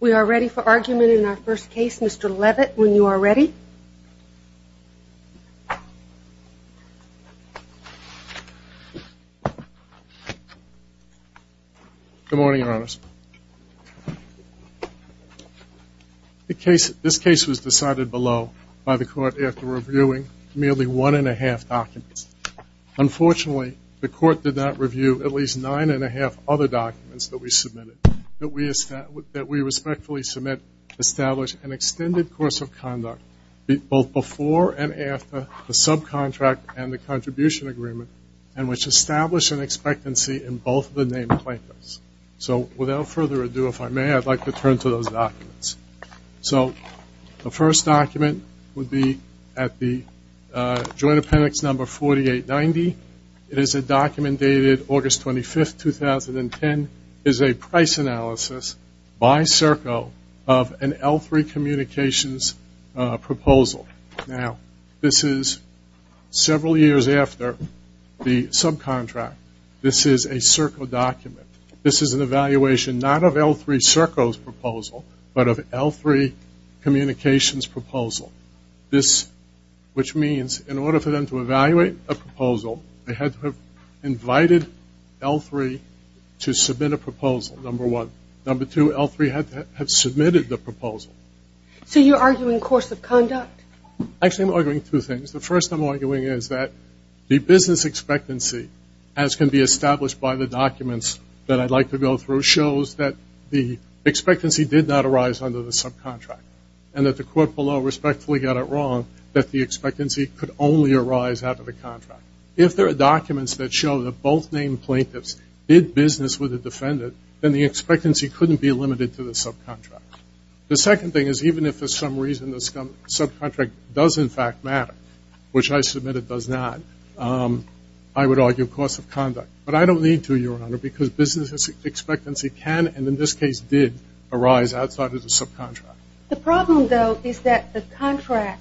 We are ready for argument in our first case. Mr. Leavitt, when you are ready. Good morning, Your Honors. This case was decided below by the court after reviewing merely one and a half documents. Unfortunately, the court did not review at least nine and a half other documents that we submitted, that we respectfully submit to establish an extended course of conduct, both before and after the subcontract and the contribution agreement, and which establish an expectancy in both of the named plaintiffs. So, without further ado, if I may, I'd like to turn to those documents. So, the first document would be at the Joint Appendix No. 4890. It is a document dated August 25, 2010. It is a price analysis by Serco of an L-3 Communications proposal. Now, this is several years after the subcontract. This is a Serco document. This is an evaluation not of L-3 Serco's proposal, but of L-3 Communications' proposal. This, which means, in order for them to evaluate a proposal, they had to have invited L-3 to submit a proposal, number one. Number two, L-3 had to have submitted the proposal. So, you're arguing course of conduct? Actually, I'm arguing two things. The first I'm arguing is that the business expectancy, as can be established by the documents that I'd like to go through, shows that the expectancy did not arise under the subcontract, and that the court below respectfully got it wrong, that the expectancy could only arise out of the contract. If there are documents that show that both named plaintiffs did business with a defendant, then the expectancy couldn't be limited to the subcontract. The second thing is, even if for some reason the subcontract does, in fact, matter, which I submitted does not, I would argue course of conduct. But I don't need to, Your Honor, because business expectancy can, and in this case did, arise outside of the subcontract. The problem, though, is that the contract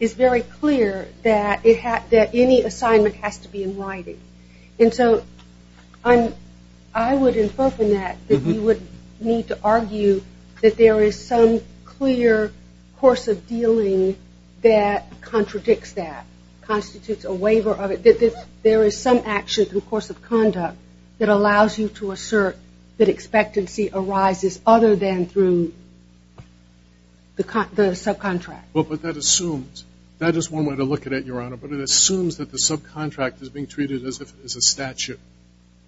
is very clear that any assignment has to be in writing. And so, I would infer from that that you would need to argue that there is some clear course of dealing that contradicts that, constitutes a waiver of it, that there is some action through course of conduct that allows you to assert that expectancy arises other than through the subcontract. Well, but that assumes, that is one way to look at it, Your Honor, but it assumes that the subcontract is being treated as a statute.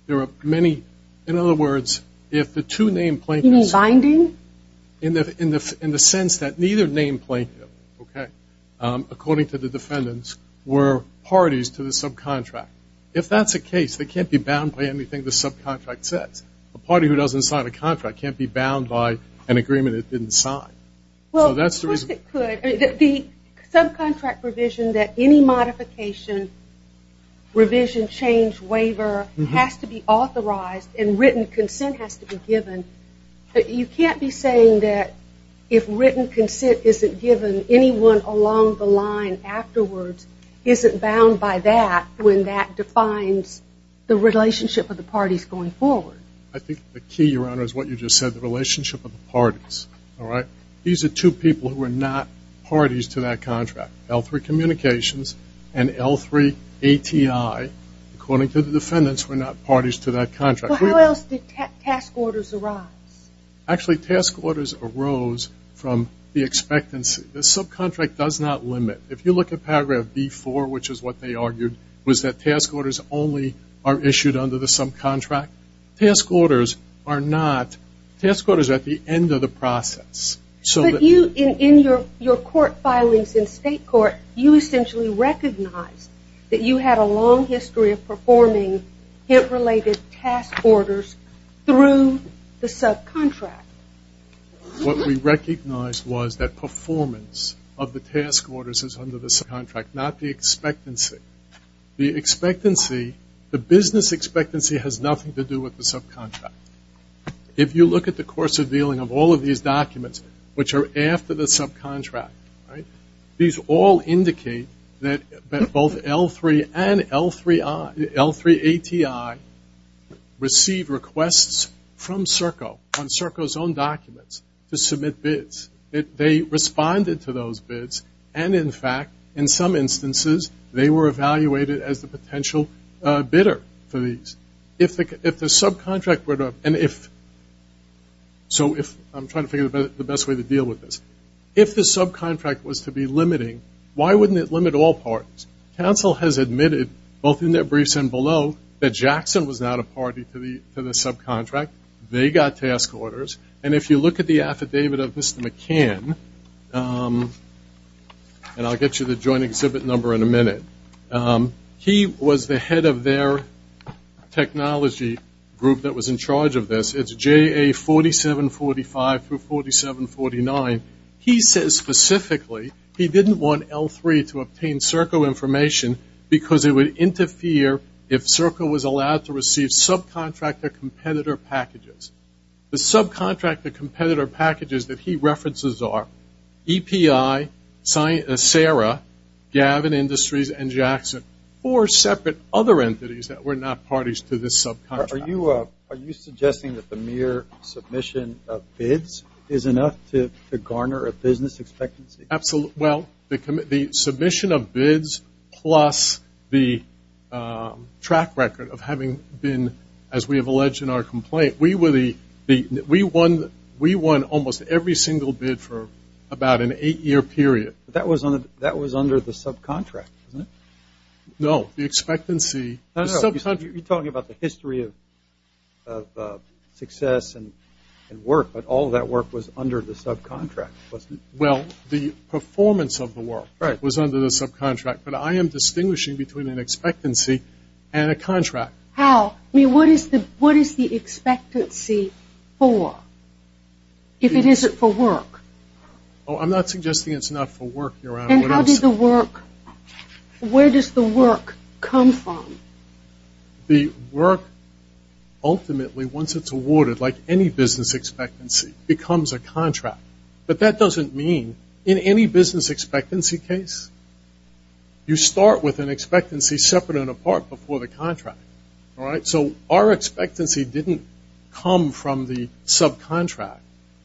There are many, in other words, if the two named plaintiffs You mean binding? In the sense that neither named plaintiff, okay, according to the defendants, were parties to the subcontract. If that's the case, they can't be bound by anything the subcontract says. A party who doesn't sign a contract can't be bound by an agreement it didn't sign. Well, of course it could. The subcontract provision that any modification, revision, change, waiver has to be authorized and written consent has to be given, but you can't be saying that if written consent isn't given, anyone along the line afterwards isn't bound by that when that defines the relationship of the parties going forward. I think the key, Your Honor, is what you just said, the relationship of the parties, all right? These are two people who are not parties to that contract. L3 Communications and L3 ATI, according to the defendants, were not parties to that contract. Well, how else did task orders arise? Actually, task orders arose from the expectancy. The subcontract does not limit. If you look at paragraph B4, which is what they argued, was that task orders only are issued under the subcontract. Task orders are not. Task orders are at the end of the process. But you, in your court filings in state court, you essentially recognize that you had a long history of performing HIP-related task orders through the subcontract. What we recognized was that performance of the task orders is under the subcontract, not the expectancy. The business expectancy has nothing to do with the subcontract. If you look at the course of dealing of all of these documents, which are after the subcontract, right, these all indicate that both L3 and L3 ATI received requests from CERCO on CERCO's own documents to submit bids. They responded to those bids and, in fact, in some instances, they were evaluated as the potential bidder for these. If the subcontract were to, and if, so if, I'm trying to figure out the best way to deal with this. If the subcontract was to be limiting, why wouldn't it be? Counsel has admitted, both in their briefs and below, that Jackson was not a party to the subcontract. They got task orders. And if you look at the affidavit of Mr. McCann, and I'll get you the joint exhibit number in a minute, he was the head of their technology group that was in charge of this. It's JA 4745 through 4749. He says specifically he didn't want L3 to receive information because it would interfere if CERCO was allowed to receive subcontractor competitor packages. The subcontractor competitor packages that he references are EPI, SARA, Gavin Industries, and Jackson, four separate other entities that were not parties to this subcontract. Are you suggesting that the mere submission of bids is enough to garner a business expectancy? Absolutely. Well, the submission of bids plus the track record of having been, as we have alleged in our complaint, we won almost every single bid for about an eight-year period. But that was under the subcontract, wasn't it? No, the expectancy. You're talking about the history of success and work, but all that work was under the subcontract, wasn't it? Well, the performance of the work was under the subcontract, but I am distinguishing between an expectancy and a contract. How? I mean, what is the expectancy for if it isn't for work? Oh, I'm not suggesting it's not for work, Your Honor. And how does the work, where does the work come from? The work ultimately, once it's awarded, like any business expectancy, becomes a contract. But that doesn't mean, in any business expectancy case, you start with an expectancy separate and apart before the contract, all right? So our expectancy didn't come from the subcontract.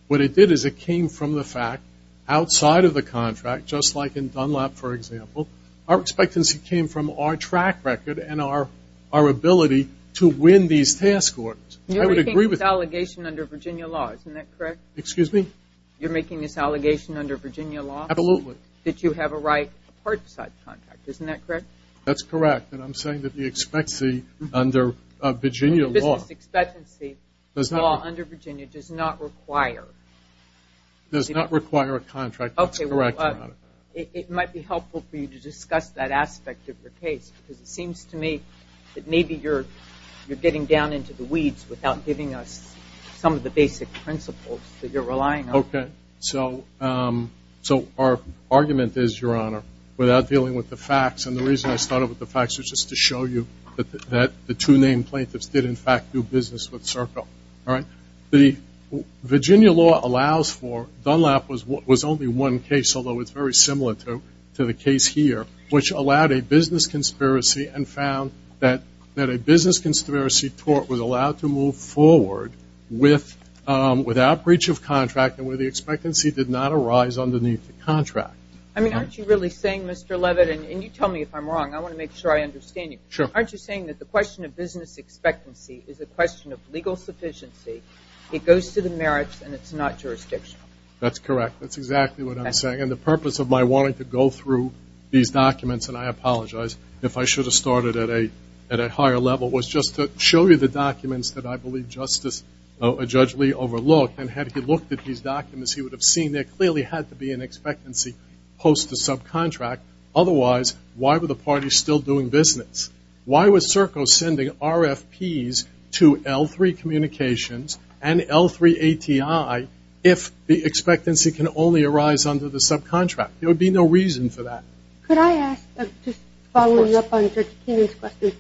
What it did is it came from the fact, outside of the contract, just like in Dunlap, for example, our expectancy came from our track record and our ability to win these task orders. You're making this allegation under Virginia law, isn't that correct? Excuse me? You're making this allegation under Virginia law? Absolutely. That you have a right apart subcontract, isn't that correct? That's correct. And I'm saying that the expectancy under Virginia law. The business expectancy law under Virginia does not require. Does not require a contract, that's correct, Your Honor. It might be helpful for you to discuss that aspect of your case, because it without giving us some of the basic principles that you're relying on. Okay. So our argument is, Your Honor, without dealing with the facts, and the reason I started with the facts was just to show you that the two named plaintiffs did, in fact, do business with Serco, all right? The Virginia law allows for, Dunlap was only one case, although it's very similar to the case here, which allowed a business conspiracy and found that a business could go forward without breach of contract and where the expectancy did not arise underneath the contract. I mean, aren't you really saying, Mr. Leavitt, and you tell me if I'm wrong. I want to make sure I understand you. Sure. Aren't you saying that the question of business expectancy is a question of legal sufficiency, it goes to the merits, and it's not jurisdictional? That's correct. That's exactly what I'm saying. And the purpose of my wanting to go through these documents, and I apologize if I should have started at a higher level, was just to show you the documents that I believe Justice, Judge Lee overlooked, and had he looked at these documents, he would have seen there clearly had to be an expectancy post the subcontract. Otherwise, why were the parties still doing business? Why was Serco sending RFPs to L3 Communications and L3 ATI if the expectancy can only arise under the subcontract? There would be no reason for that. Could I ask, just following up on Judge Kenyon's question,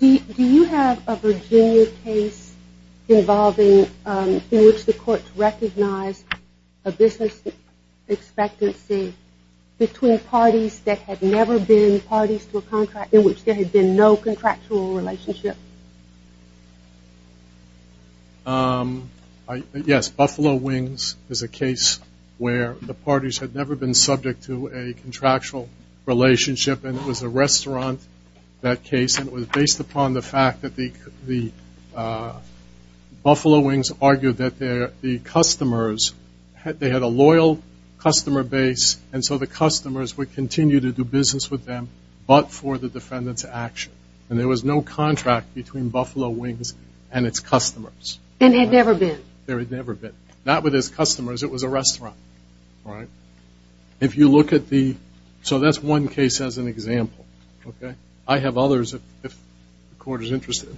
do you have a Virginia case involving, in which the courts recognized a business expectancy between parties that had never been parties to a contract, in which there had been no contractual relationship? Yes. Buffalo Wings is a case where the parties had never been subject to a relationship, and it was a restaurant, that case, and it was based upon the fact that the Buffalo Wings argued that the customers, they had a loyal customer base, and so the customers would continue to do business with them but for the defendant's action. And there was no contract between Buffalo Wings and its customers. And had never been. There had never been. Not with its customers. It was a restaurant, right? If you look at the, so that's one case as an example, okay? I have others if the court is interested.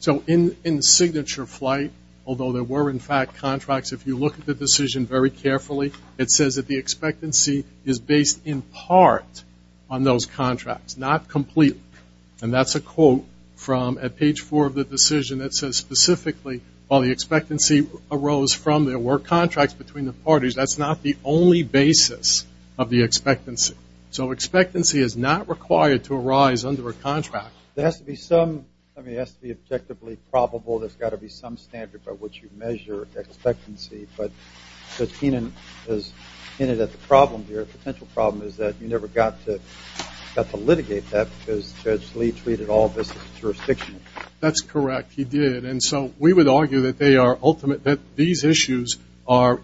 So in Signature Flight, although there were in fact contracts, if you look at the decision very carefully, it says that the expectancy is based in part on those contracts, not completely. And that's a quote from at page four of the decision that says specifically while the expectancy arose from there were contracts between the parties, that's not the only basis of the expectancy. So expectancy is not required to arise under a contract. There has to be some, I mean, it has to be objectively probable. There's got to be some standard by which you measure expectancy. But as Kenan has hinted at the problem here, potential problem is that you never got to litigate that because Judge Lee treated all this as jurisdiction. That's correct, he did. And so we would argue that they are ultimate, that these issues are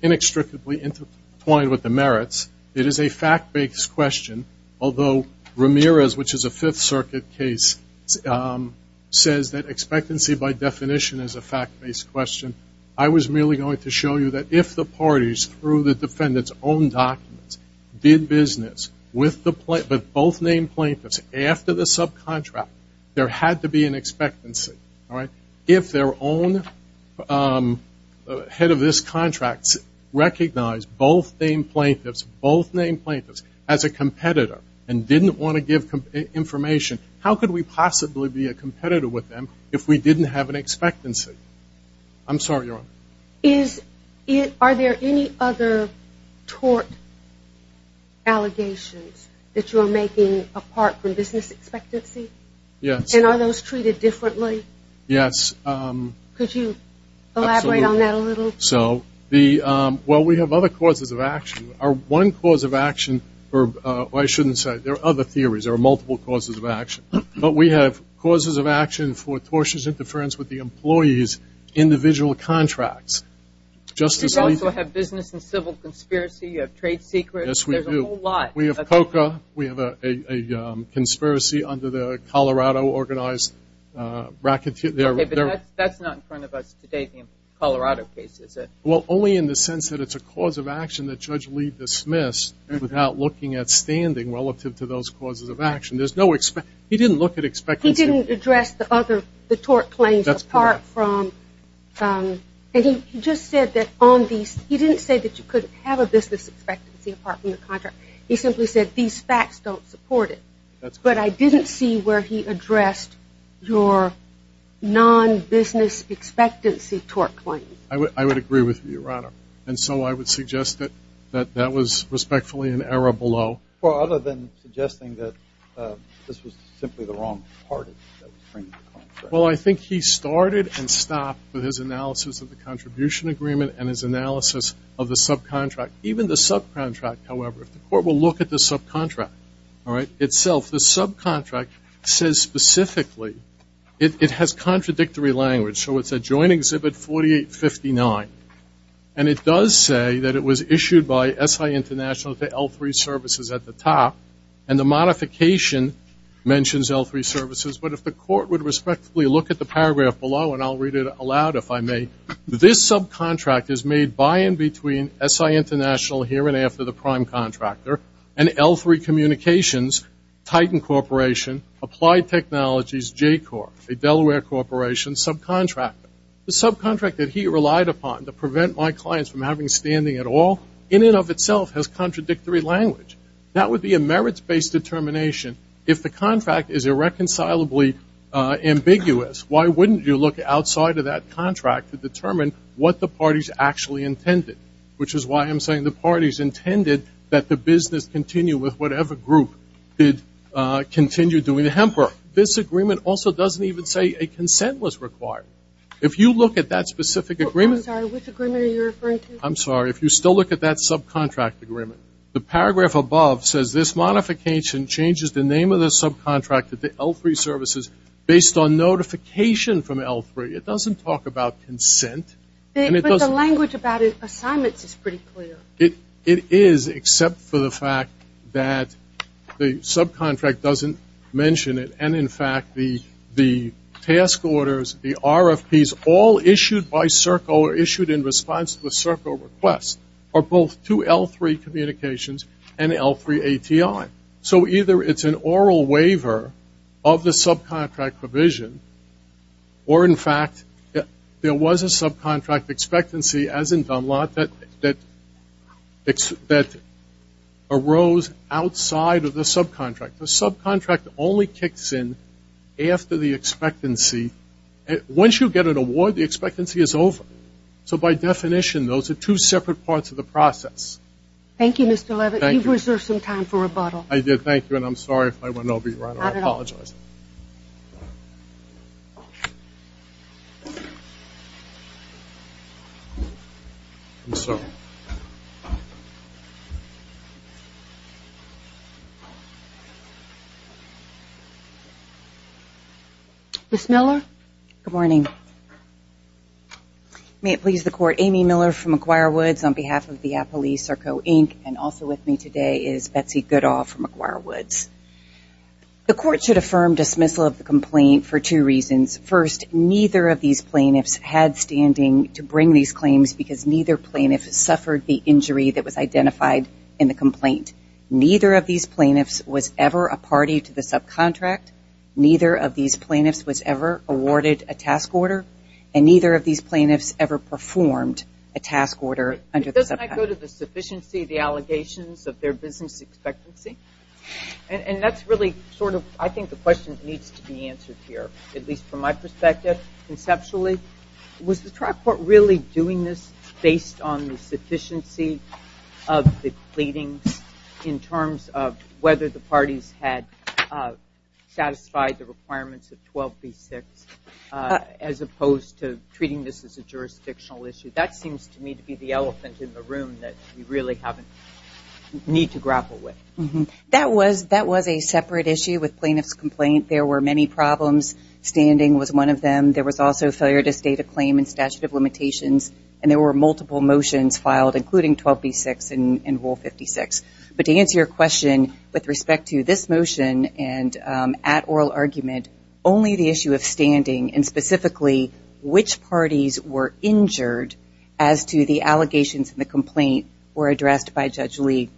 inextricably intertwined with the merits. It is a fact-based question. Although Ramirez, which is a Fifth Circuit case, says that expectancy by definition is a fact-based question. I was merely going to show you that if the parties, through the defendant's own documents, did business with both named plaintiffs after the subcontract, there had to be an expectancy. If their own head of this contract recognized both named plaintiffs, both named plaintiffs as a competitor and didn't want to give information, how could we possibly be a competitor with them if we didn't have an expectancy? I'm sorry, Your Honor. Is it, are there any other tort allegations that you are making apart from business expectancy? Yes. And are those treated differently? Yes. Could you elaborate on that a little? So, the, well, we have other causes of action. Our one cause of action, or I shouldn't say, there are other theories. There are multiple causes of action. But we have causes of action for tortious interference with the employee's individual contracts. Justice Alito. You also have business and civil conspiracy. You have trade secrets. Yes, we do. There's a whole lot. We have COCA. We have a conspiracy under the Colorado organized racketeer. Okay, but that's not in front of us today, the Colorado case, is it? Well, only in the sense that it's a cause of action that Judge Lee dismissed without looking at standing relative to those causes of action. There's no, he didn't look at expectancy. He didn't address the other, the tort claims apart from, and he just said that on these, he didn't say that you couldn't have a business expectancy apart from the contract. He simply said, these facts don't support it. But I didn't see where he addressed your non-business expectancy tort claims. I would agree with you, Your Honor. And so I would suggest that that was respectfully an error below. Well, other than suggesting that this was simply the wrong party that was bringing the contract. Well, I think he started and stopped with his analysis of the contribution agreement and his analysis of the subcontract. Even the subcontract, however, if the court will look at the subcontract itself, the subcontract says specifically, it has contradictory language. So it's a joint exhibit 4859. And it does say that it was issued by SI International to L3 services at the top. And the modification mentions L3 services. But if the court would respectfully look at the paragraph below, and I'll read it aloud if I may, this subcontract is made by and between SI International, here and after the prime contractor, and L3 Communications, Titan Corporation, Applied Technologies, J-Corp, a Delaware Corporation subcontractor. The subcontract that he relied upon to prevent my clients from having standing at all, in and of itself, has contradictory language. That would be a merits-based determination. If the contract is irreconcilably ambiguous, why wouldn't you look outside of that contract to determine what the party's actually intended? Which is why I'm saying the party's intended that the business continue with whatever group did continue doing the hemper. This agreement also doesn't even say a consent was required. If you look at that specific agreement. I'm sorry, which agreement are you referring to? I'm sorry, if you still look at that subcontract agreement. The paragraph above says, this modification changes the name of the subcontract at the L3 services based on notification from L3. It doesn't talk about consent. But the language about assignments is pretty clear. It is, except for the fact that the subcontract doesn't mention it. And in fact, the task orders, the RFPs, all issued by CERCO are issued in response to the CERCO request are both to L3 communications and L3 ATI. So either it's an oral waiver of the subcontract provision, or in fact, there was a subcontract expectancy, as in Dunlop, that arose outside of the subcontract. The subcontract only kicks in after the expectancy. Once you get an award, the expectancy is over. So by definition, those are two separate parts of the process. Thank you, Mr. Levitt. You've reserved some time for rebuttal. I did. Thank you. And I'm sorry if I went over you. Not at all. I apologize. I'm sorry. Ms. Miller? Good morning. May it please the court, Amy Miller from McGuire Woods on behalf of the Appalachia CERCO, Inc. And also with me today is Betsy Goodall from McGuire Woods. The court should affirm dismissal of the complaint for two reasons. First, neither of these plaintiffs had standing to bring these claims, because neither plaintiff has suffered the injury that was identified in the complaint. Neither of these plaintiffs was ever a party to the subcontract. Neither of these plaintiffs was ever awarded a task order. And neither of these plaintiffs ever performed a task order under the subcontract. Doesn't that go to the sufficiency of the allegations of their business expectancy? And that's really sort of, I think, the question that needs to be answered here, at least from my perspective, conceptually. Was the trial court really doing this based on the sufficiency of the pleadings in terms of whether the parties had satisfied the requirements of 12B6, as opposed to treating this as a jurisdictional issue? That seems to me to be the elephant in the room that we really need to grapple with. That was a separate issue with plaintiff's complaint. There were many problems. Standing was one of them. There was also failure to state a claim in statute of limitations. And there were multiple motions filed, including 12B6 and Rule 56. But to answer your question with respect to this motion and at oral argument, only the issue of standing, and specifically, which parties were injured as to the allegations in the complaint were addressed by Judge Lee.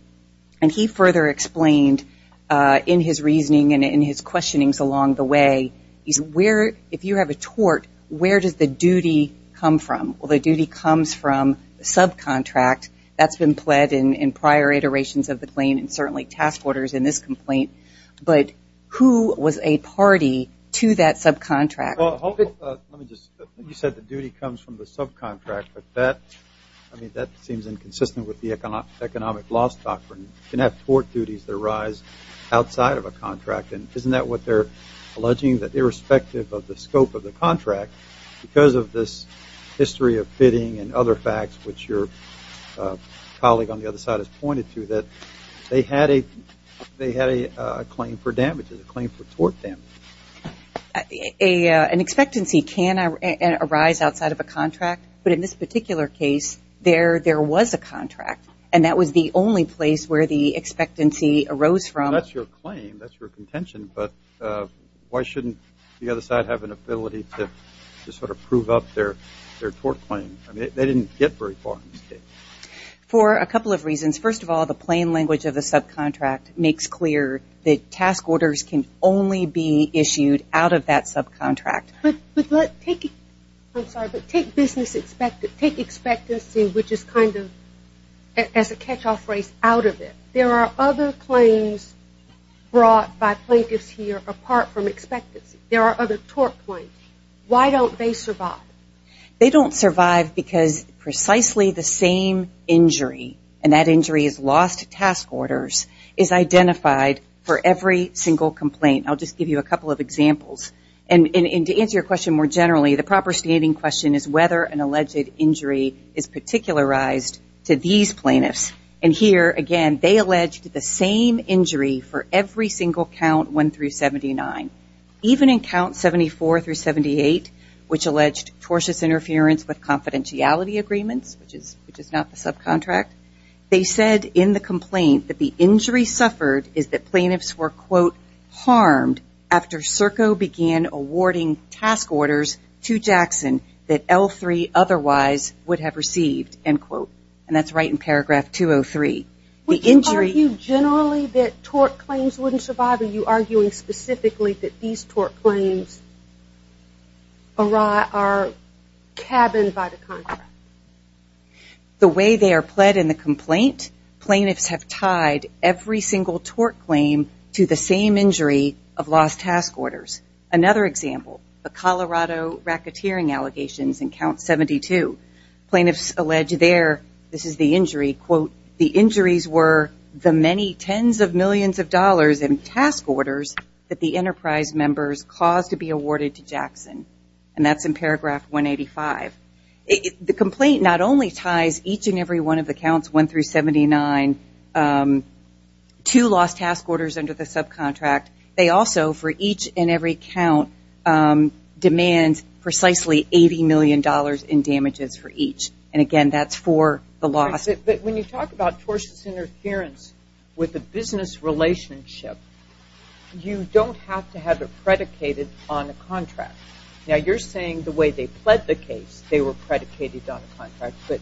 And he further explained in his reasoning and in his questionings along the way, is if you have a tort, where does the duty come from? Well, the duty comes from the subcontract that's been pled in prior iterations of the claim and certainly task orders in this complaint. But who was a party to that subcontract? Well, let me just, you said the duty comes from the subcontract, but that, I mean, that seems inconsistent with the economic laws doctrine. You can have tort duties that arise outside of a contract. And isn't that what they're alleging? That irrespective of the scope of the contract, because of this history of bidding and other facts, which your colleague on the other side has pointed to, that they had a claim for damages, a claim for tort damages. An expectancy can arise outside of a contract. But in this particular case, there was a contract. And that was the only place where the expectancy arose from. That's your claim. That's your contention. But why shouldn't the other side have an ability to sort of prove up their tort claim? They didn't get very far in this case. For a couple of reasons. First of all, the plain language of the subcontract makes clear that task orders can only be issued out of that subcontract. But let's take, I'm sorry, but take business expectancy, which is kind of, as a catch-off phrase, out of it. There are other claims brought by plaintiffs here apart from expectancy. There are other tort claims. Why don't they survive? They don't survive because precisely the same injury, and that injury is lost task orders, is identified for every single complaint. I'll just give you a couple of examples. And to answer your question more generally, the proper standing question is whether an alleged injury is particularized to these plaintiffs. And here, again, they alleged the same injury for every single count one through 79. Even in count 74 through 78, which alleged tortious interference with confidentiality agreements, which is not the subcontract, they said in the complaint that the injury suffered is that plaintiffs were, quote, harmed after SERCO began awarding task orders to Jackson that L3 otherwise would have received, end quote. And that's right in paragraph 203. Would you argue generally that tort claims wouldn't survive? Are you arguing specifically that these tort claims are cabined by the contract? The way they are pled in the complaint, plaintiffs have tied every single tort claim to the same injury of lost task orders. Another example, the Colorado racketeering allegations in count 72. Plaintiffs allege there, this is the injury, quote, the injuries were the many tens of millions of dollars in task orders that the enterprise members caused to be awarded to Jackson. And that's in paragraph 185. The complaint not only ties each and every one of the counts one through 79 to lost task orders under the subcontract. They also, for each and every count, demand precisely $80 million in damages for each. And again, that's for the loss. When you talk about tortious interference with a business relationship, you don't have to have it predicated on a contract. Now, you're saying the way they pled the case, they were predicated on a contract. But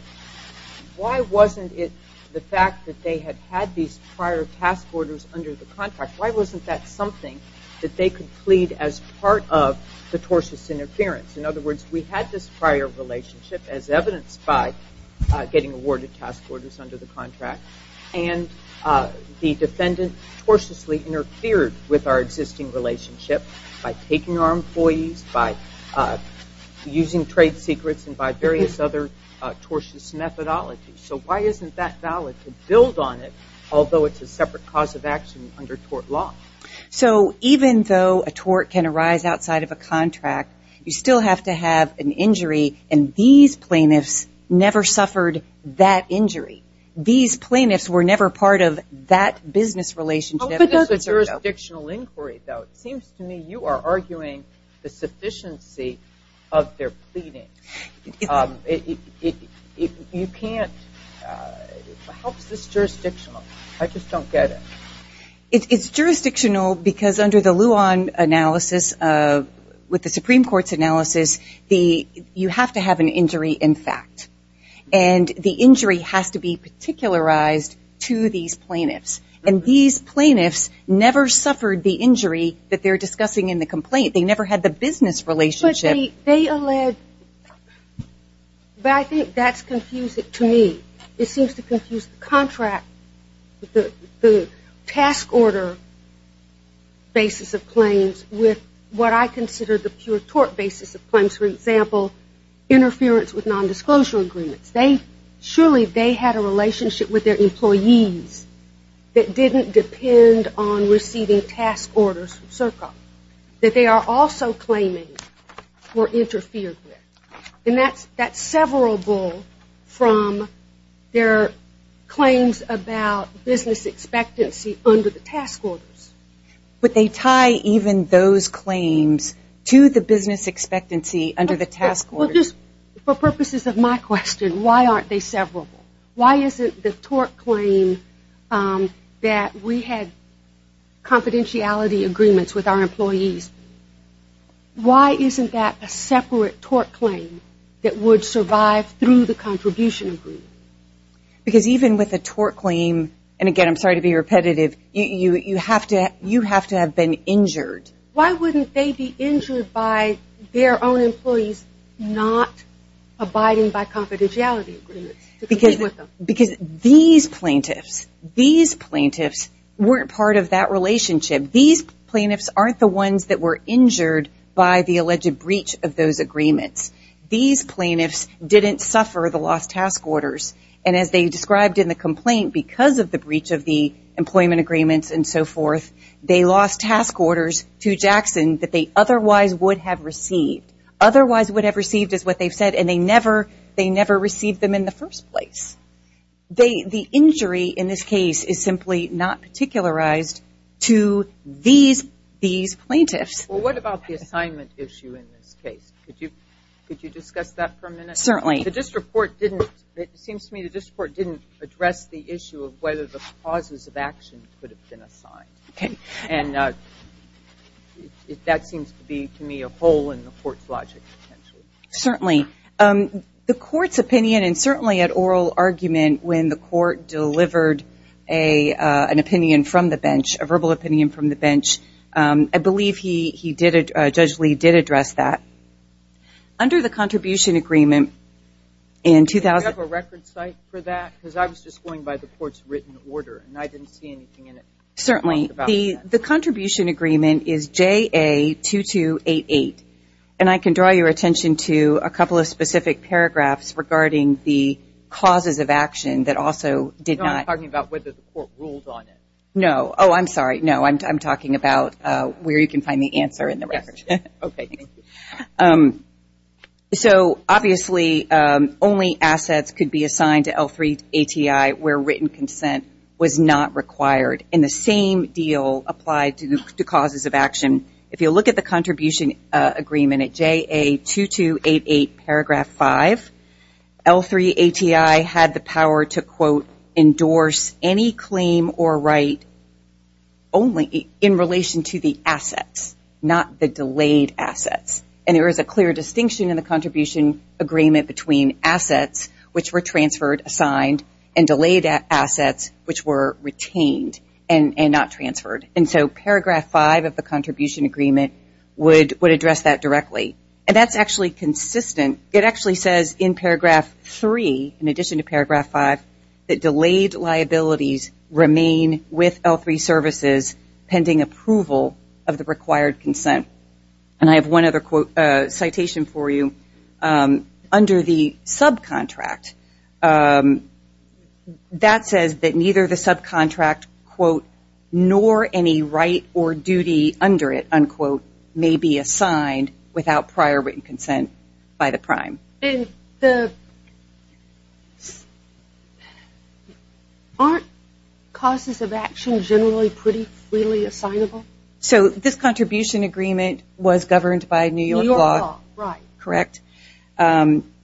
why wasn't it the fact that they had had these prior task orders under the contract? Why wasn't that something that they could plead as part of the tortious interference? In other words, we had this prior relationship as evidenced by getting awarded task orders under the contract. And the defendant tortiously interfered with our existing relationship by taking our employees, by using trade secrets, and by various other tortious methodologies. So why isn't that valid to build on it, although it's a separate cause of action under tort law? So even though a tort can arise outside of a contract, you still have to have an injury. And these plaintiffs never suffered that injury. These plaintiffs were never part of that business relationship. How good is the jurisdictional inquiry, though? It seems to me you are arguing the sufficiency of their pleading. You can't. What helps this jurisdictional? I just don't get it. It's jurisdictional because under the Luan analysis, with the Supreme Court's analysis, you have to have an injury in fact. And the injury has to be particularized to these plaintiffs. And these plaintiffs never suffered the injury that they're discussing in the complaint. They never had the business relationship. They allege, but I think that's confusing to me. It seems to confuse the contract, the task order basis of claims with what I consider the pure tort basis of claims. For example, interference with nondisclosure agreements. Surely they had a relationship with their employees that didn't depend on receiving task orders from CERCA, that they are also claiming were interfered with. And that's severable from their claims about business expectancy under the task orders. But they tie even those claims to the business expectancy under the task orders. For purposes of my question, why aren't they severable? Why isn't the tort claim that we had confidentiality agreements with our employees, why isn't that a separate tort claim that would survive through the contribution agreement? Because even with a tort claim, and again, I'm sorry to be repetitive. You have to have been injured. Why wouldn't they be injured by their own employees not abiding by confidentiality agreements? Because these plaintiffs, these plaintiffs weren't part of that relationship. These plaintiffs aren't the ones that were injured by the alleged breach of those agreements. These plaintiffs didn't suffer the lost task orders. And as they described in the complaint, because of the breach of the employment agreements and so forth, they lost task orders to Jackson that they otherwise would have received. Otherwise would have received is what they've said, and they never received them in the first place. The injury in this case is simply not particularized to these plaintiffs. Well, what about the assignment issue in this case? Could you discuss that for a minute? Certainly. The district court didn't, it seems to me the district court didn't address the issue of whether the causes of action could have been assigned. And that seems to be, to me, a hole in the court's logic. Certainly. The court's opinion, and certainly an oral argument when the court delivered an opinion from the bench, a verbal opinion from the bench, I believe Judge Lee did address that. Under the contribution agreement in 2000. Do you have a record site for that? Because I was just going by the court's written order, and I didn't see anything in it. Certainly. The contribution agreement is JA-2288. And I can draw your attention to a couple of specific paragraphs regarding the causes of action that also did not. No, I'm talking about whether the court ruled on it. No. Oh, I'm sorry. No, I'm talking about where you can find the answer in the record. OK, thank you. So obviously, only assets could be assigned to L-3 ATI where written consent was not required. In the same deal applied to the causes of action, if you look at the contribution agreement at JA-2288 paragraph 5, L-3 ATI had the power to, quote, endorse any claim or right only in relation to the assets, not the delayed assets. And there is a clear distinction in the contribution agreement between assets, which were transferred, assigned, and delayed assets, which were retained and not transferred. And so paragraph 5 of the contribution agreement would address that directly. And that's actually consistent. It actually says in paragraph 3, in addition to paragraph 5, that delayed liabilities remain with L-3 services pending approval of the required consent. And I have one other citation for you. Under the subcontract, that says that neither the subcontract, quote, nor any right or duty under it, unquote, may be assigned without prior written consent by the prime. Aren't causes of action generally pretty freely assignable? So this contribution agreement was governed by New York law. Correct.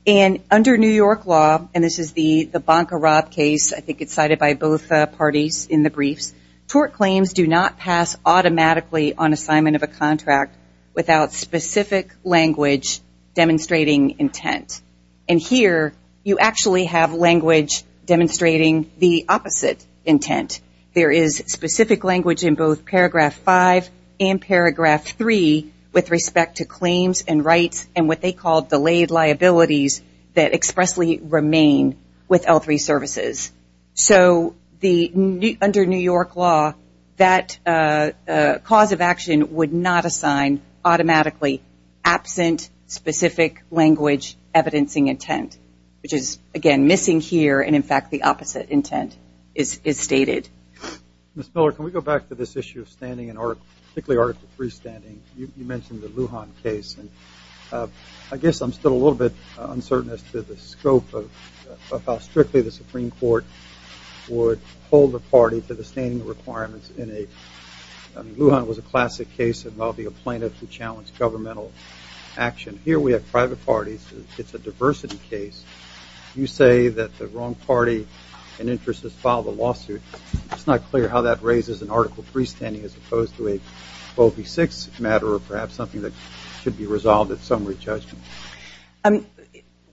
And under New York law, and this is the Bancarat case, I think it's cited by both parties in the briefs, tort claims do not pass automatically on assignment of a contract without specific language demonstrating intent. And here, you actually have language demonstrating the opposite intent. There is specific language in both paragraph 5 and paragraph 3 with respect to claims and rights and what they called delayed liabilities that expressly remain with L-3 services. So under New York law, that cause of action would not assign automatically absent specific language evidencing intent, which is, again, missing here. And in fact, the opposite intent is stated. Ms. Miller, can we go back to this issue of standing, particularly Article 3 standing? You mentioned the Lujan case. And I guess I'm still a little bit uncertain as to the scope of how strictly the Supreme Court would hold the party to the standing requirements in a Lujan was a classic case involving a plaintiff who challenged governmental action. Here, we have private parties. It's a diversity case. You say that the wrong party and interest has filed a lawsuit. It's not clear how that raises an article 3 standing as opposed to a 12b-6 matter or perhaps something that should be resolved at summary judgment.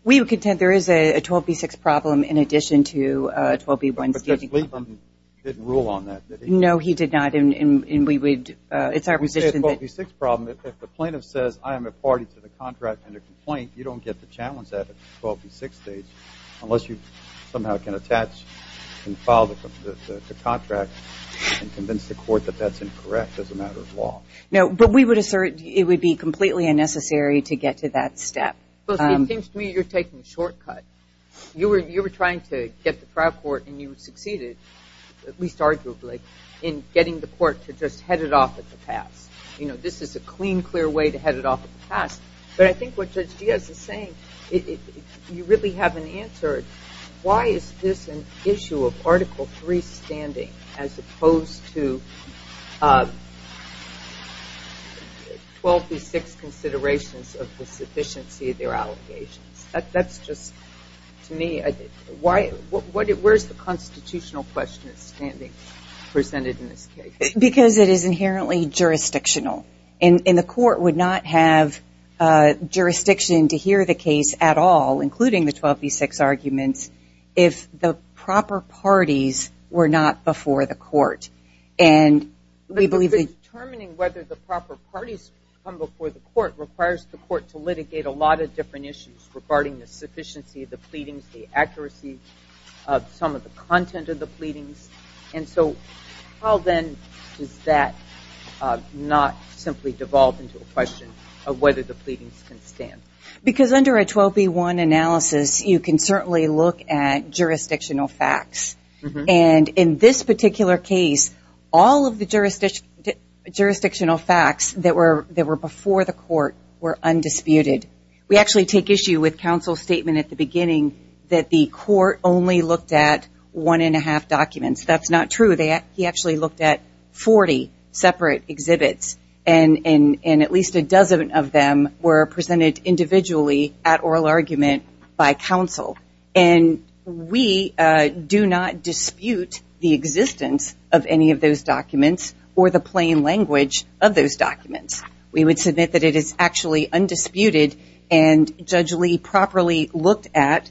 We would contend there is a 12b-6 problem in addition to a 12b-1 standing. But Judge Liebman didn't rule on that, did he? No, he did not. And we would, it's our position that. We say a 12b-6 problem, if the plaintiff says, I am a party to the contract and a complaint, you don't get the challenge at a 12b-6 stage unless you somehow can attach and file the contract and convince the court that that's incorrect as a matter of law. No, but we would assert it would be completely unnecessary to get to that step. Well, see, it seems to me you're taking a shortcut. You were trying to get the trial court, and you succeeded, at least arguably, in getting the court to just head it off at the pass. This is a clean, clear way to head it off at the pass. But I think what Judge Diaz is saying, you really haven't answered, why is this an issue of Article III standing, as opposed to 12b-6 considerations of the sufficiency of their allegations? That's just, to me, where's the constitutional question of standing presented in this case? Because it is inherently jurisdictional. And the court would not have jurisdiction to hear the case at all, including the 12b-6 arguments, if the proper parties were not before the court. And we believe that determining whether the proper parties come before the court requires the court to litigate a lot of different issues regarding the sufficiency of the pleadings, the accuracy of some of the content of the pleadings. And so how, then, does that not simply devolve into a question of whether the pleadings can stand? Because under a 12b-1 analysis, you can certainly look at jurisdictional facts. And in this particular case, all of the jurisdictional facts that were before the court were undisputed. We actually take issue with counsel's statement at the beginning that the court only looked at one and a half documents. That's not true. He actually looked at 40 separate exhibits. And at least a dozen of them were presented individually at oral argument by counsel. And we do not dispute the existence of any of those documents or the plain language of those documents. We would submit that it is actually undisputed. And Judge Lee properly looked at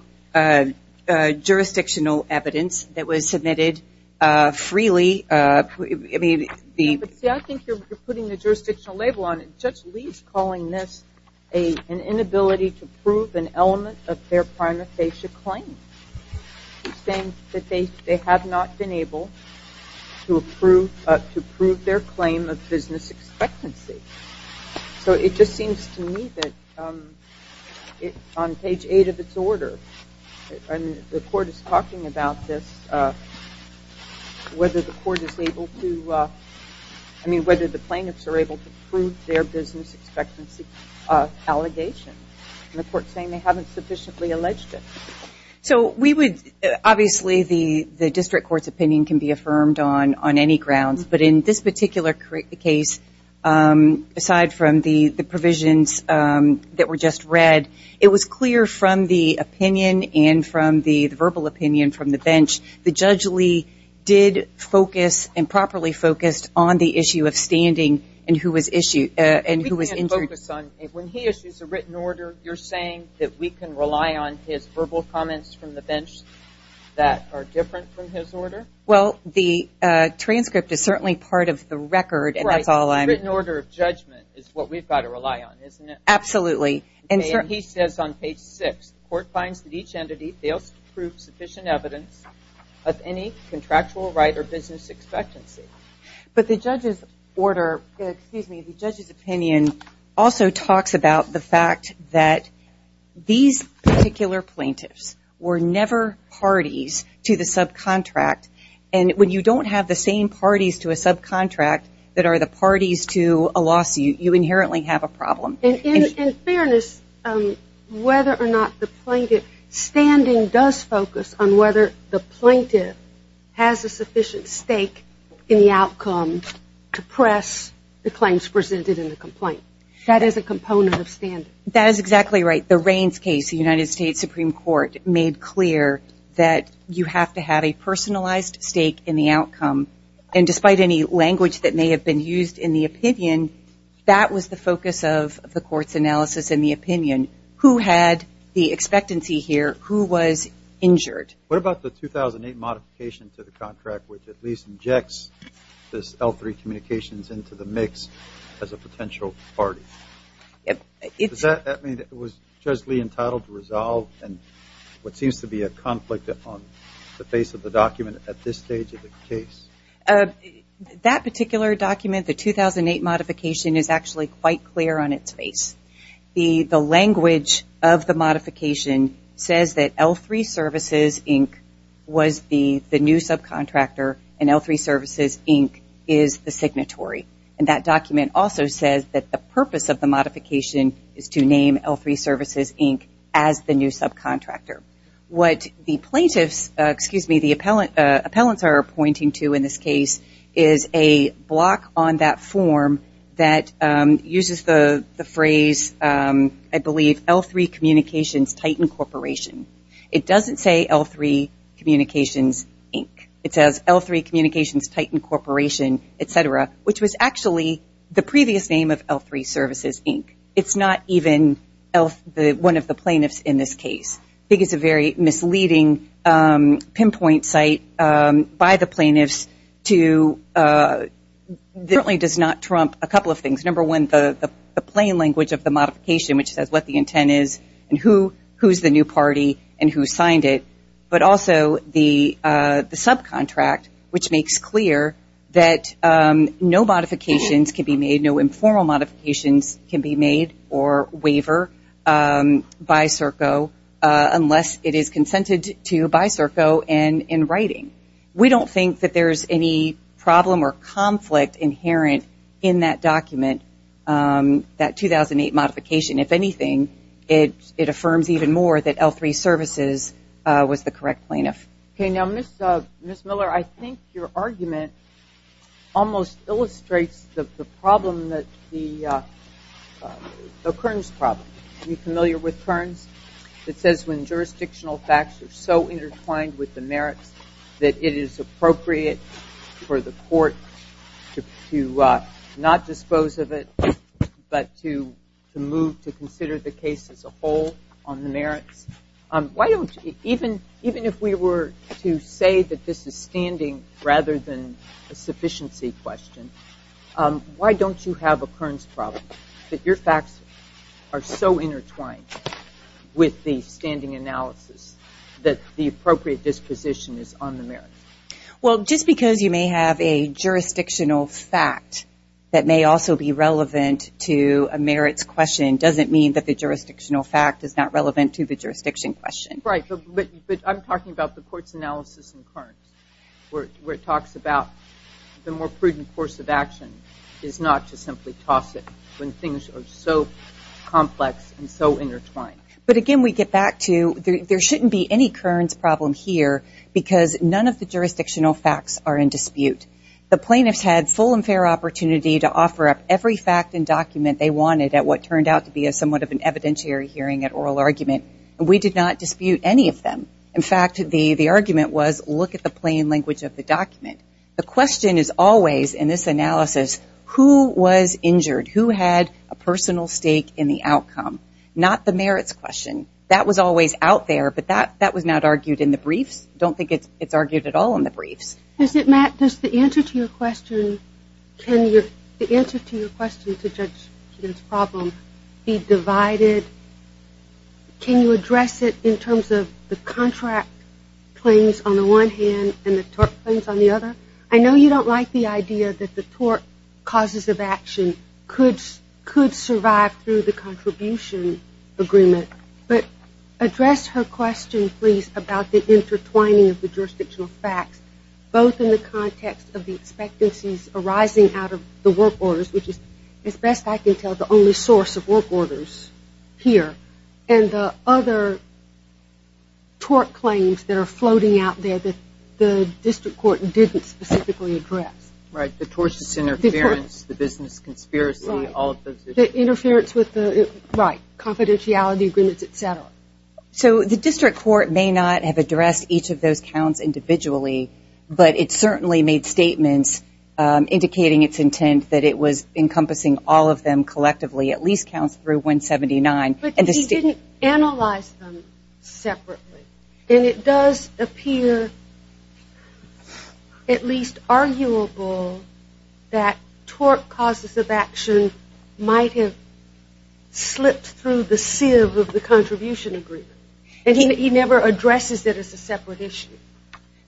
jurisdictional evidence that was submitted freely. See, I think you're putting the jurisdictional label on it. Judge Lee is calling this an inability to prove an element of their prima facie claim. He's saying that they have not been able to prove their claim of business expectancy. So it just seems to me that on page eight of its order, the court is talking about this, whether the plaintiffs are able to prove their business expectancy allegation. And the court's saying they haven't sufficiently alleged it. So obviously, the district court's opinion can be affirmed on any grounds. But in this particular case, aside from the provisions that were just read, it was clear from the opinion and from the verbal opinion from the bench that Judge Lee did focus and properly focused on the issue of standing and who was injured. When he issues a written order, you're saying that we can rely on his verbal comments from the bench that are different from his order? Well, the transcript is certainly part of the record. And that's all I'm. The written order of judgment is what we've got to rely on, isn't it? Absolutely. And he says on page six, the court finds that each entity fails to prove sufficient evidence of any contractual right or business expectancy. But the judge's order, excuse me, the judge's opinion also talks about the fact that these particular plaintiffs were never parties to the subcontract. And when you don't have the same parties to a subcontract that are the parties to a lawsuit, you inherently have a problem. And in fairness, whether or not the plaintiff's standing does focus on whether the plaintiff has a sufficient stake in the outcome to press the claims presented in the complaint. That is a component of standing. That is exactly right. The Raines case, the United States Supreme Court, made clear that you have to have a personalized stake in the outcome. And despite any language that may have been used in the opinion, that was the focus of the court's analysis and the opinion. Who had the expectancy here? Who was injured? What about the 2008 modification to the contract, which at least injects this L3 communications into the mix as a potential party? Does that mean it was justly entitled to resolve and what seems to be a conflict on the face of the document at this stage of the case? That particular document, the 2008 modification, is actually quite clear on its face. The language of the modification says that L3 Services, Inc. was the new subcontractor, and L3 Services, Inc. is the signatory. And that document also says that the purpose of the modification is to name L3 Services, Inc. as the new subcontractor. What the plaintiffs, excuse me, the appellants are pointing to in this case is a block on that form that uses the phrase, I believe, L3 Communications Titan Corporation. It doesn't say L3 Communications, Inc. It says L3 Communications Titan Corporation, et cetera, which was actually the previous name of L3 Services, Inc. It's not even one of the plaintiffs in this case. I think it's a very misleading pinpoint site by the plaintiffs to certainly does not trump a couple of things. Number one, the plain language of the modification, which says what the intent is and who's the new party and who signed it, but also the subcontract, which makes clear that no modifications can be made, no informal modifications can be made or waiver by CERCO unless it is consented to by CERCO and in writing. We don't think that there's any problem or conflict inherent in that document, that 2008 modification. If anything, it affirms even more that L3 Services was the correct plaintiff. OK, now, Ms. Miller, I think your argument almost illustrates the problem, the Kearns problem. You familiar with Kearns? It says when jurisdictional facts are so intertwined with the merits that it is appropriate for the court to not dispose of it, why don't, even if we were to say that this is standing rather than a sufficiency question, why don't you have a Kearns problem, that your facts are so intertwined with the standing analysis that the appropriate disposition is on the merits? Well, just because you may have a jurisdictional fact that may also be relevant to a merits question doesn't mean that the jurisdictional fact is not a jurisdiction question. Right, but I'm talking about the court's analysis in Kearns, where it talks about the more prudent course of action is not to simply toss it when things are so complex and so intertwined. But again, we get back to, there shouldn't be any Kearns problem here, because none of the jurisdictional facts are in dispute. The plaintiffs had full and fair opportunity to offer up every fact and document they wanted at what turned out to be somewhat of an evidentiary hearing at oral argument. We did not dispute any of them. In fact, the argument was, look at the plain language of the document. The question is always, in this analysis, who was injured? Who had a personal stake in the outcome? Not the merits question. That was always out there, but that was not argued in the briefs. Don't think it's argued at all in the briefs. Is it, Matt? Does the answer to your question, can the answer to your question to judge Kearns problem be divided? Can you address it in terms of the contract claims on the one hand and the tort claims on the other? I know you don't like the idea that the tort causes of action could survive through the contribution agreement, but address her question, please, about the intertwining of the jurisdictional facts, both in the context of the expectancies arising out of the work orders, which is, as best I can tell, the only source of work orders here, and the other tort claims that are floating out there that the district court didn't specifically address. Right, the tortious interference, the business conspiracy, all of those issues. The interference with the, right, confidentiality agreements, et cetera. So the district court may not have addressed each of those counts individually, but it certainly made statements indicating its intent that it was encompassing all of them collectively, at least counts through 179. But he didn't analyze them separately. And it does appear at least arguable that tort causes of action might have slipped through the sieve of the contribution agreement. And he never addresses it as a separate issue.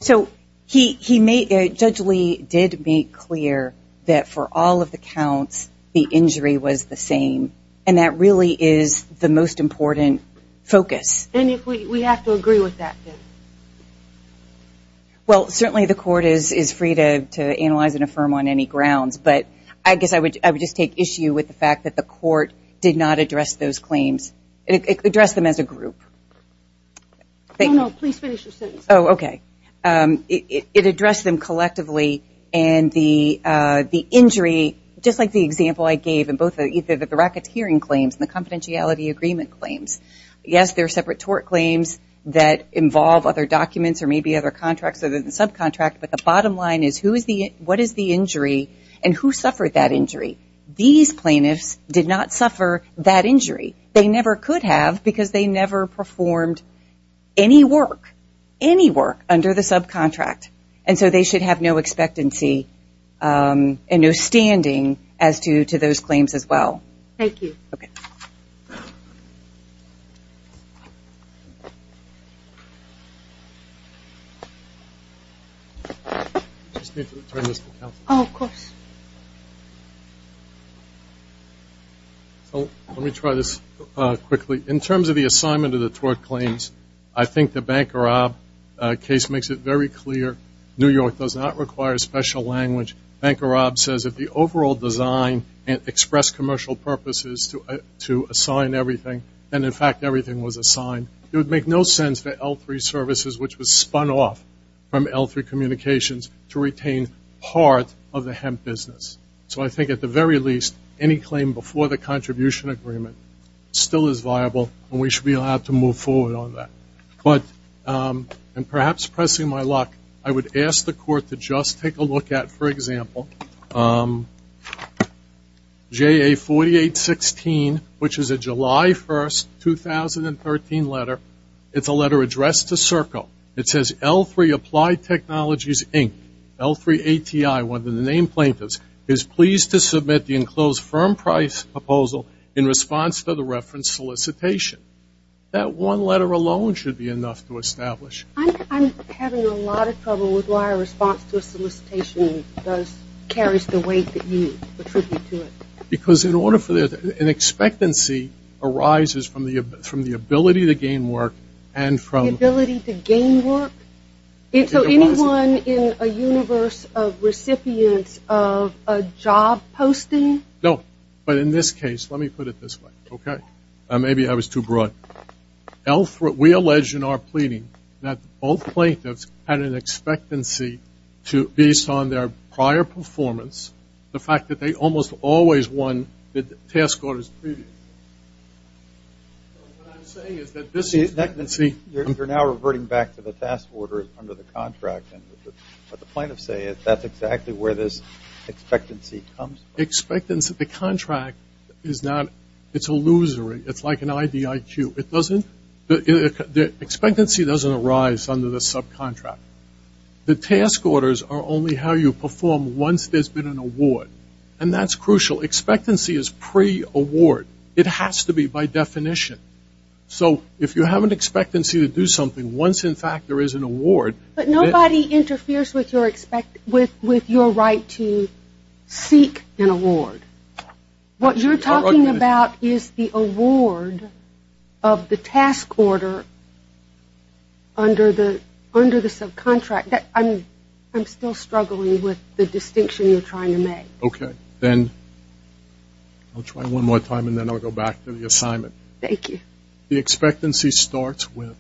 So Judge Lee did make clear that for all of the counts, the injury was the same. And that really is the most important focus. And if we have to agree with that, then? Well, certainly the court is free to analyze and affirm on any grounds. But I guess I would just take issue with the fact that the court did not address those claims, address them as a group. No, no, please finish your sentence. Oh, OK. It addressed them collectively. And the injury, just like the example I gave in both the racketeering claims and the confidentiality agreement claims, yes, there are separate tort claims that involve other documents or maybe other contracts or the subcontract. But the bottom line is, what is the injury and who suffered that injury? These plaintiffs did not suffer that injury. They never could have because they never performed any work, any work, under the subcontract. And so they should have no expectancy and no standing as to those claims as well. Thank you. OK. Just need to turn this to counsel. Oh, of course. So let me try this quickly. In terms of the assignment of the tort claims, I think the Bankerob case makes it very clear. New York does not require special language. Bankerob says that the overall design and express commercial purposes to assign everything, and in fact, everything was assigned, it would make no sense for L3 services, which was spun off from L3 communications, to retain part of the hemp business. So I think at the very least, any claim before the contribution agreement still is viable, and we should be allowed to move forward on that. And perhaps pressing my luck, I would ask the court to just take a look at, for example, JA 4816, which is a July 1, 2013 letter. It's a letter addressed to Serco. It says, L3 Applied Technologies, Inc., L3 ATI, one of the named plaintiffs, is pleased to submit the enclosed firm price proposal in response to the reference solicitation. That one letter alone should be enough to establish. I'm having a lot of trouble with why a response to a solicitation carries the weight that you attribute to it. Because in order for there to be an expectancy, arises from the ability to gain work, and from- The ability to gain work? So anyone in a universe of recipients of a job posting? No. But in this case, let me put it this way, OK? Maybe I was too broad. We allege in our pleading that all plaintiffs had an expectancy based on their prior performance, the fact that they almost always won the task orders previously. So what I'm saying is that this expectancy- You're now reverting back to the task order under the contract, and what the plaintiffs say is that's exactly where this expectancy comes from. Expectance of the contract is not- It's illusory. It's like an IDIQ. It doesn't- The expectancy doesn't arise under the subcontract. The task orders are only how you perform once there's been an award. And that's crucial. Expectancy is pre-award. It has to be by definition. So if you have an expectancy to do something once, in fact, there is an award- But nobody interferes with your right to seek an award. What you're talking about is the award of the task order under the subcontract. I'm still struggling with the distinction you're trying to make. OK. Then I'll try one more time, and then I'll go back to the assignment. The expectancy starts with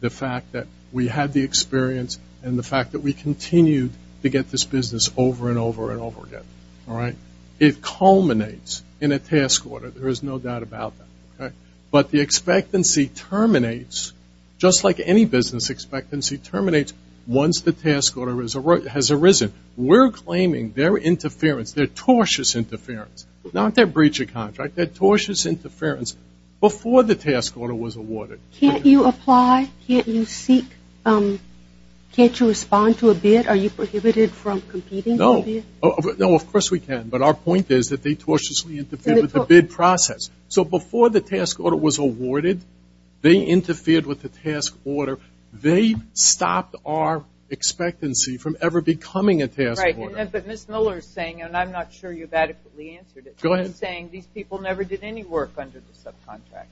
the fact that we had the experience and the fact that we continued to get this business over and over and over again. All right? It culminates in a task order. There is no doubt about that. But the expectancy terminates just like any business expectancy terminates once the task order has arisen. We're claiming their interference, their tortious interference, not their breacher contract, their tortious interference before the task order was awarded. Can't you apply? Can't you seek? Can't you respond to a bid? Are you prohibited from competing? No. No, of course we can. But our point is that they tortiously interfere with the bid process. So before the task order was awarded, they interfered with the task order. They stopped our expectancy from ever becoming a task order. Right. But Ms. Miller is saying, and I'm not sure you've adequately answered it. Go ahead. She's saying these people never did any work under the subcontract.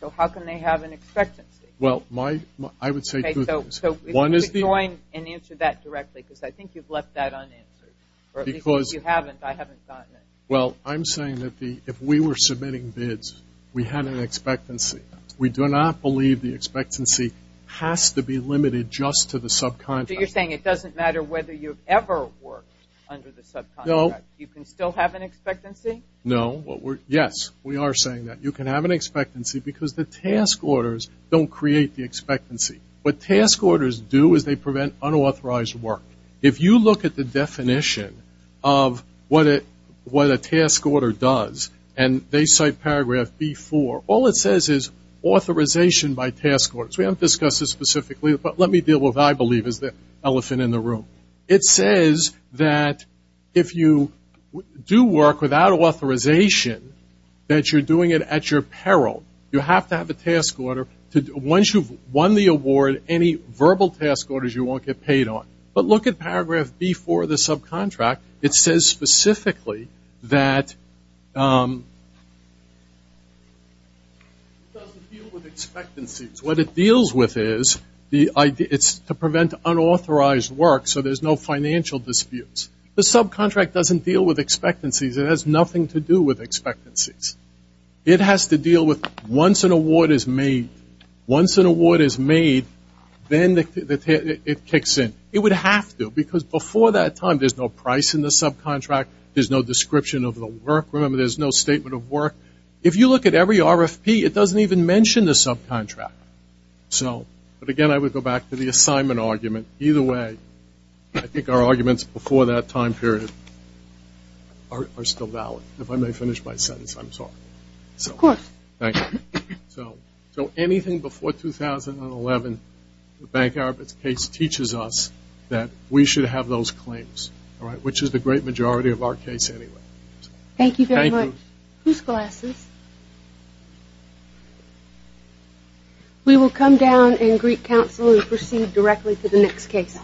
So how can they have an expectancy? Well, my- So join and answer that directly, because I think you've left that unanswered. Because- You haven't. I haven't gotten it. Well, I'm saying that if we were submitting bids, we had an expectancy. We do not believe the expectancy has to be limited just to the subcontract. You're saying it doesn't matter whether you've ever worked under the subcontract. You can still have an expectancy? No. Yes, we are saying that. You can have an expectancy, because the task orders don't create the expectancy. What task orders do is they prevent unauthorized work. If you look at the definition of what a task order does, and they cite paragraph B4, all it says is authorization by task orders. We haven't discussed this specifically, but let me deal with what I believe is the elephant in the room. It says that if you do work without authorization, that you're doing it at your peril. You have to have a task order. Once you've won the award, any verbal task orders you won't get paid on. But look at paragraph B4 of the subcontract. It says specifically that it doesn't deal with expectancies. What it deals with is to prevent unauthorized work, so there's no financial disputes. The subcontract doesn't deal with expectancies. It has nothing to do with expectancies. It has to deal with once an award is made. Once an award is made, then it kicks in. It would have to, because before that time, there's no price in the subcontract. There's no description of the work. Remember, there's no statement of work. If you look at every RFP, it doesn't even mention the subcontract. But again, I would go back to the assignment argument. Either way, I think our arguments before that time period are still valid. If I may finish my sentence, I'm sorry. Of course. Thank you. So anything before 2011, the Bank Arabids case teaches us that we should have those claims, which is the great majority of our case anyway. Thank you very much. Who's glasses? We will come down and greet counsel and proceed directly to the next case.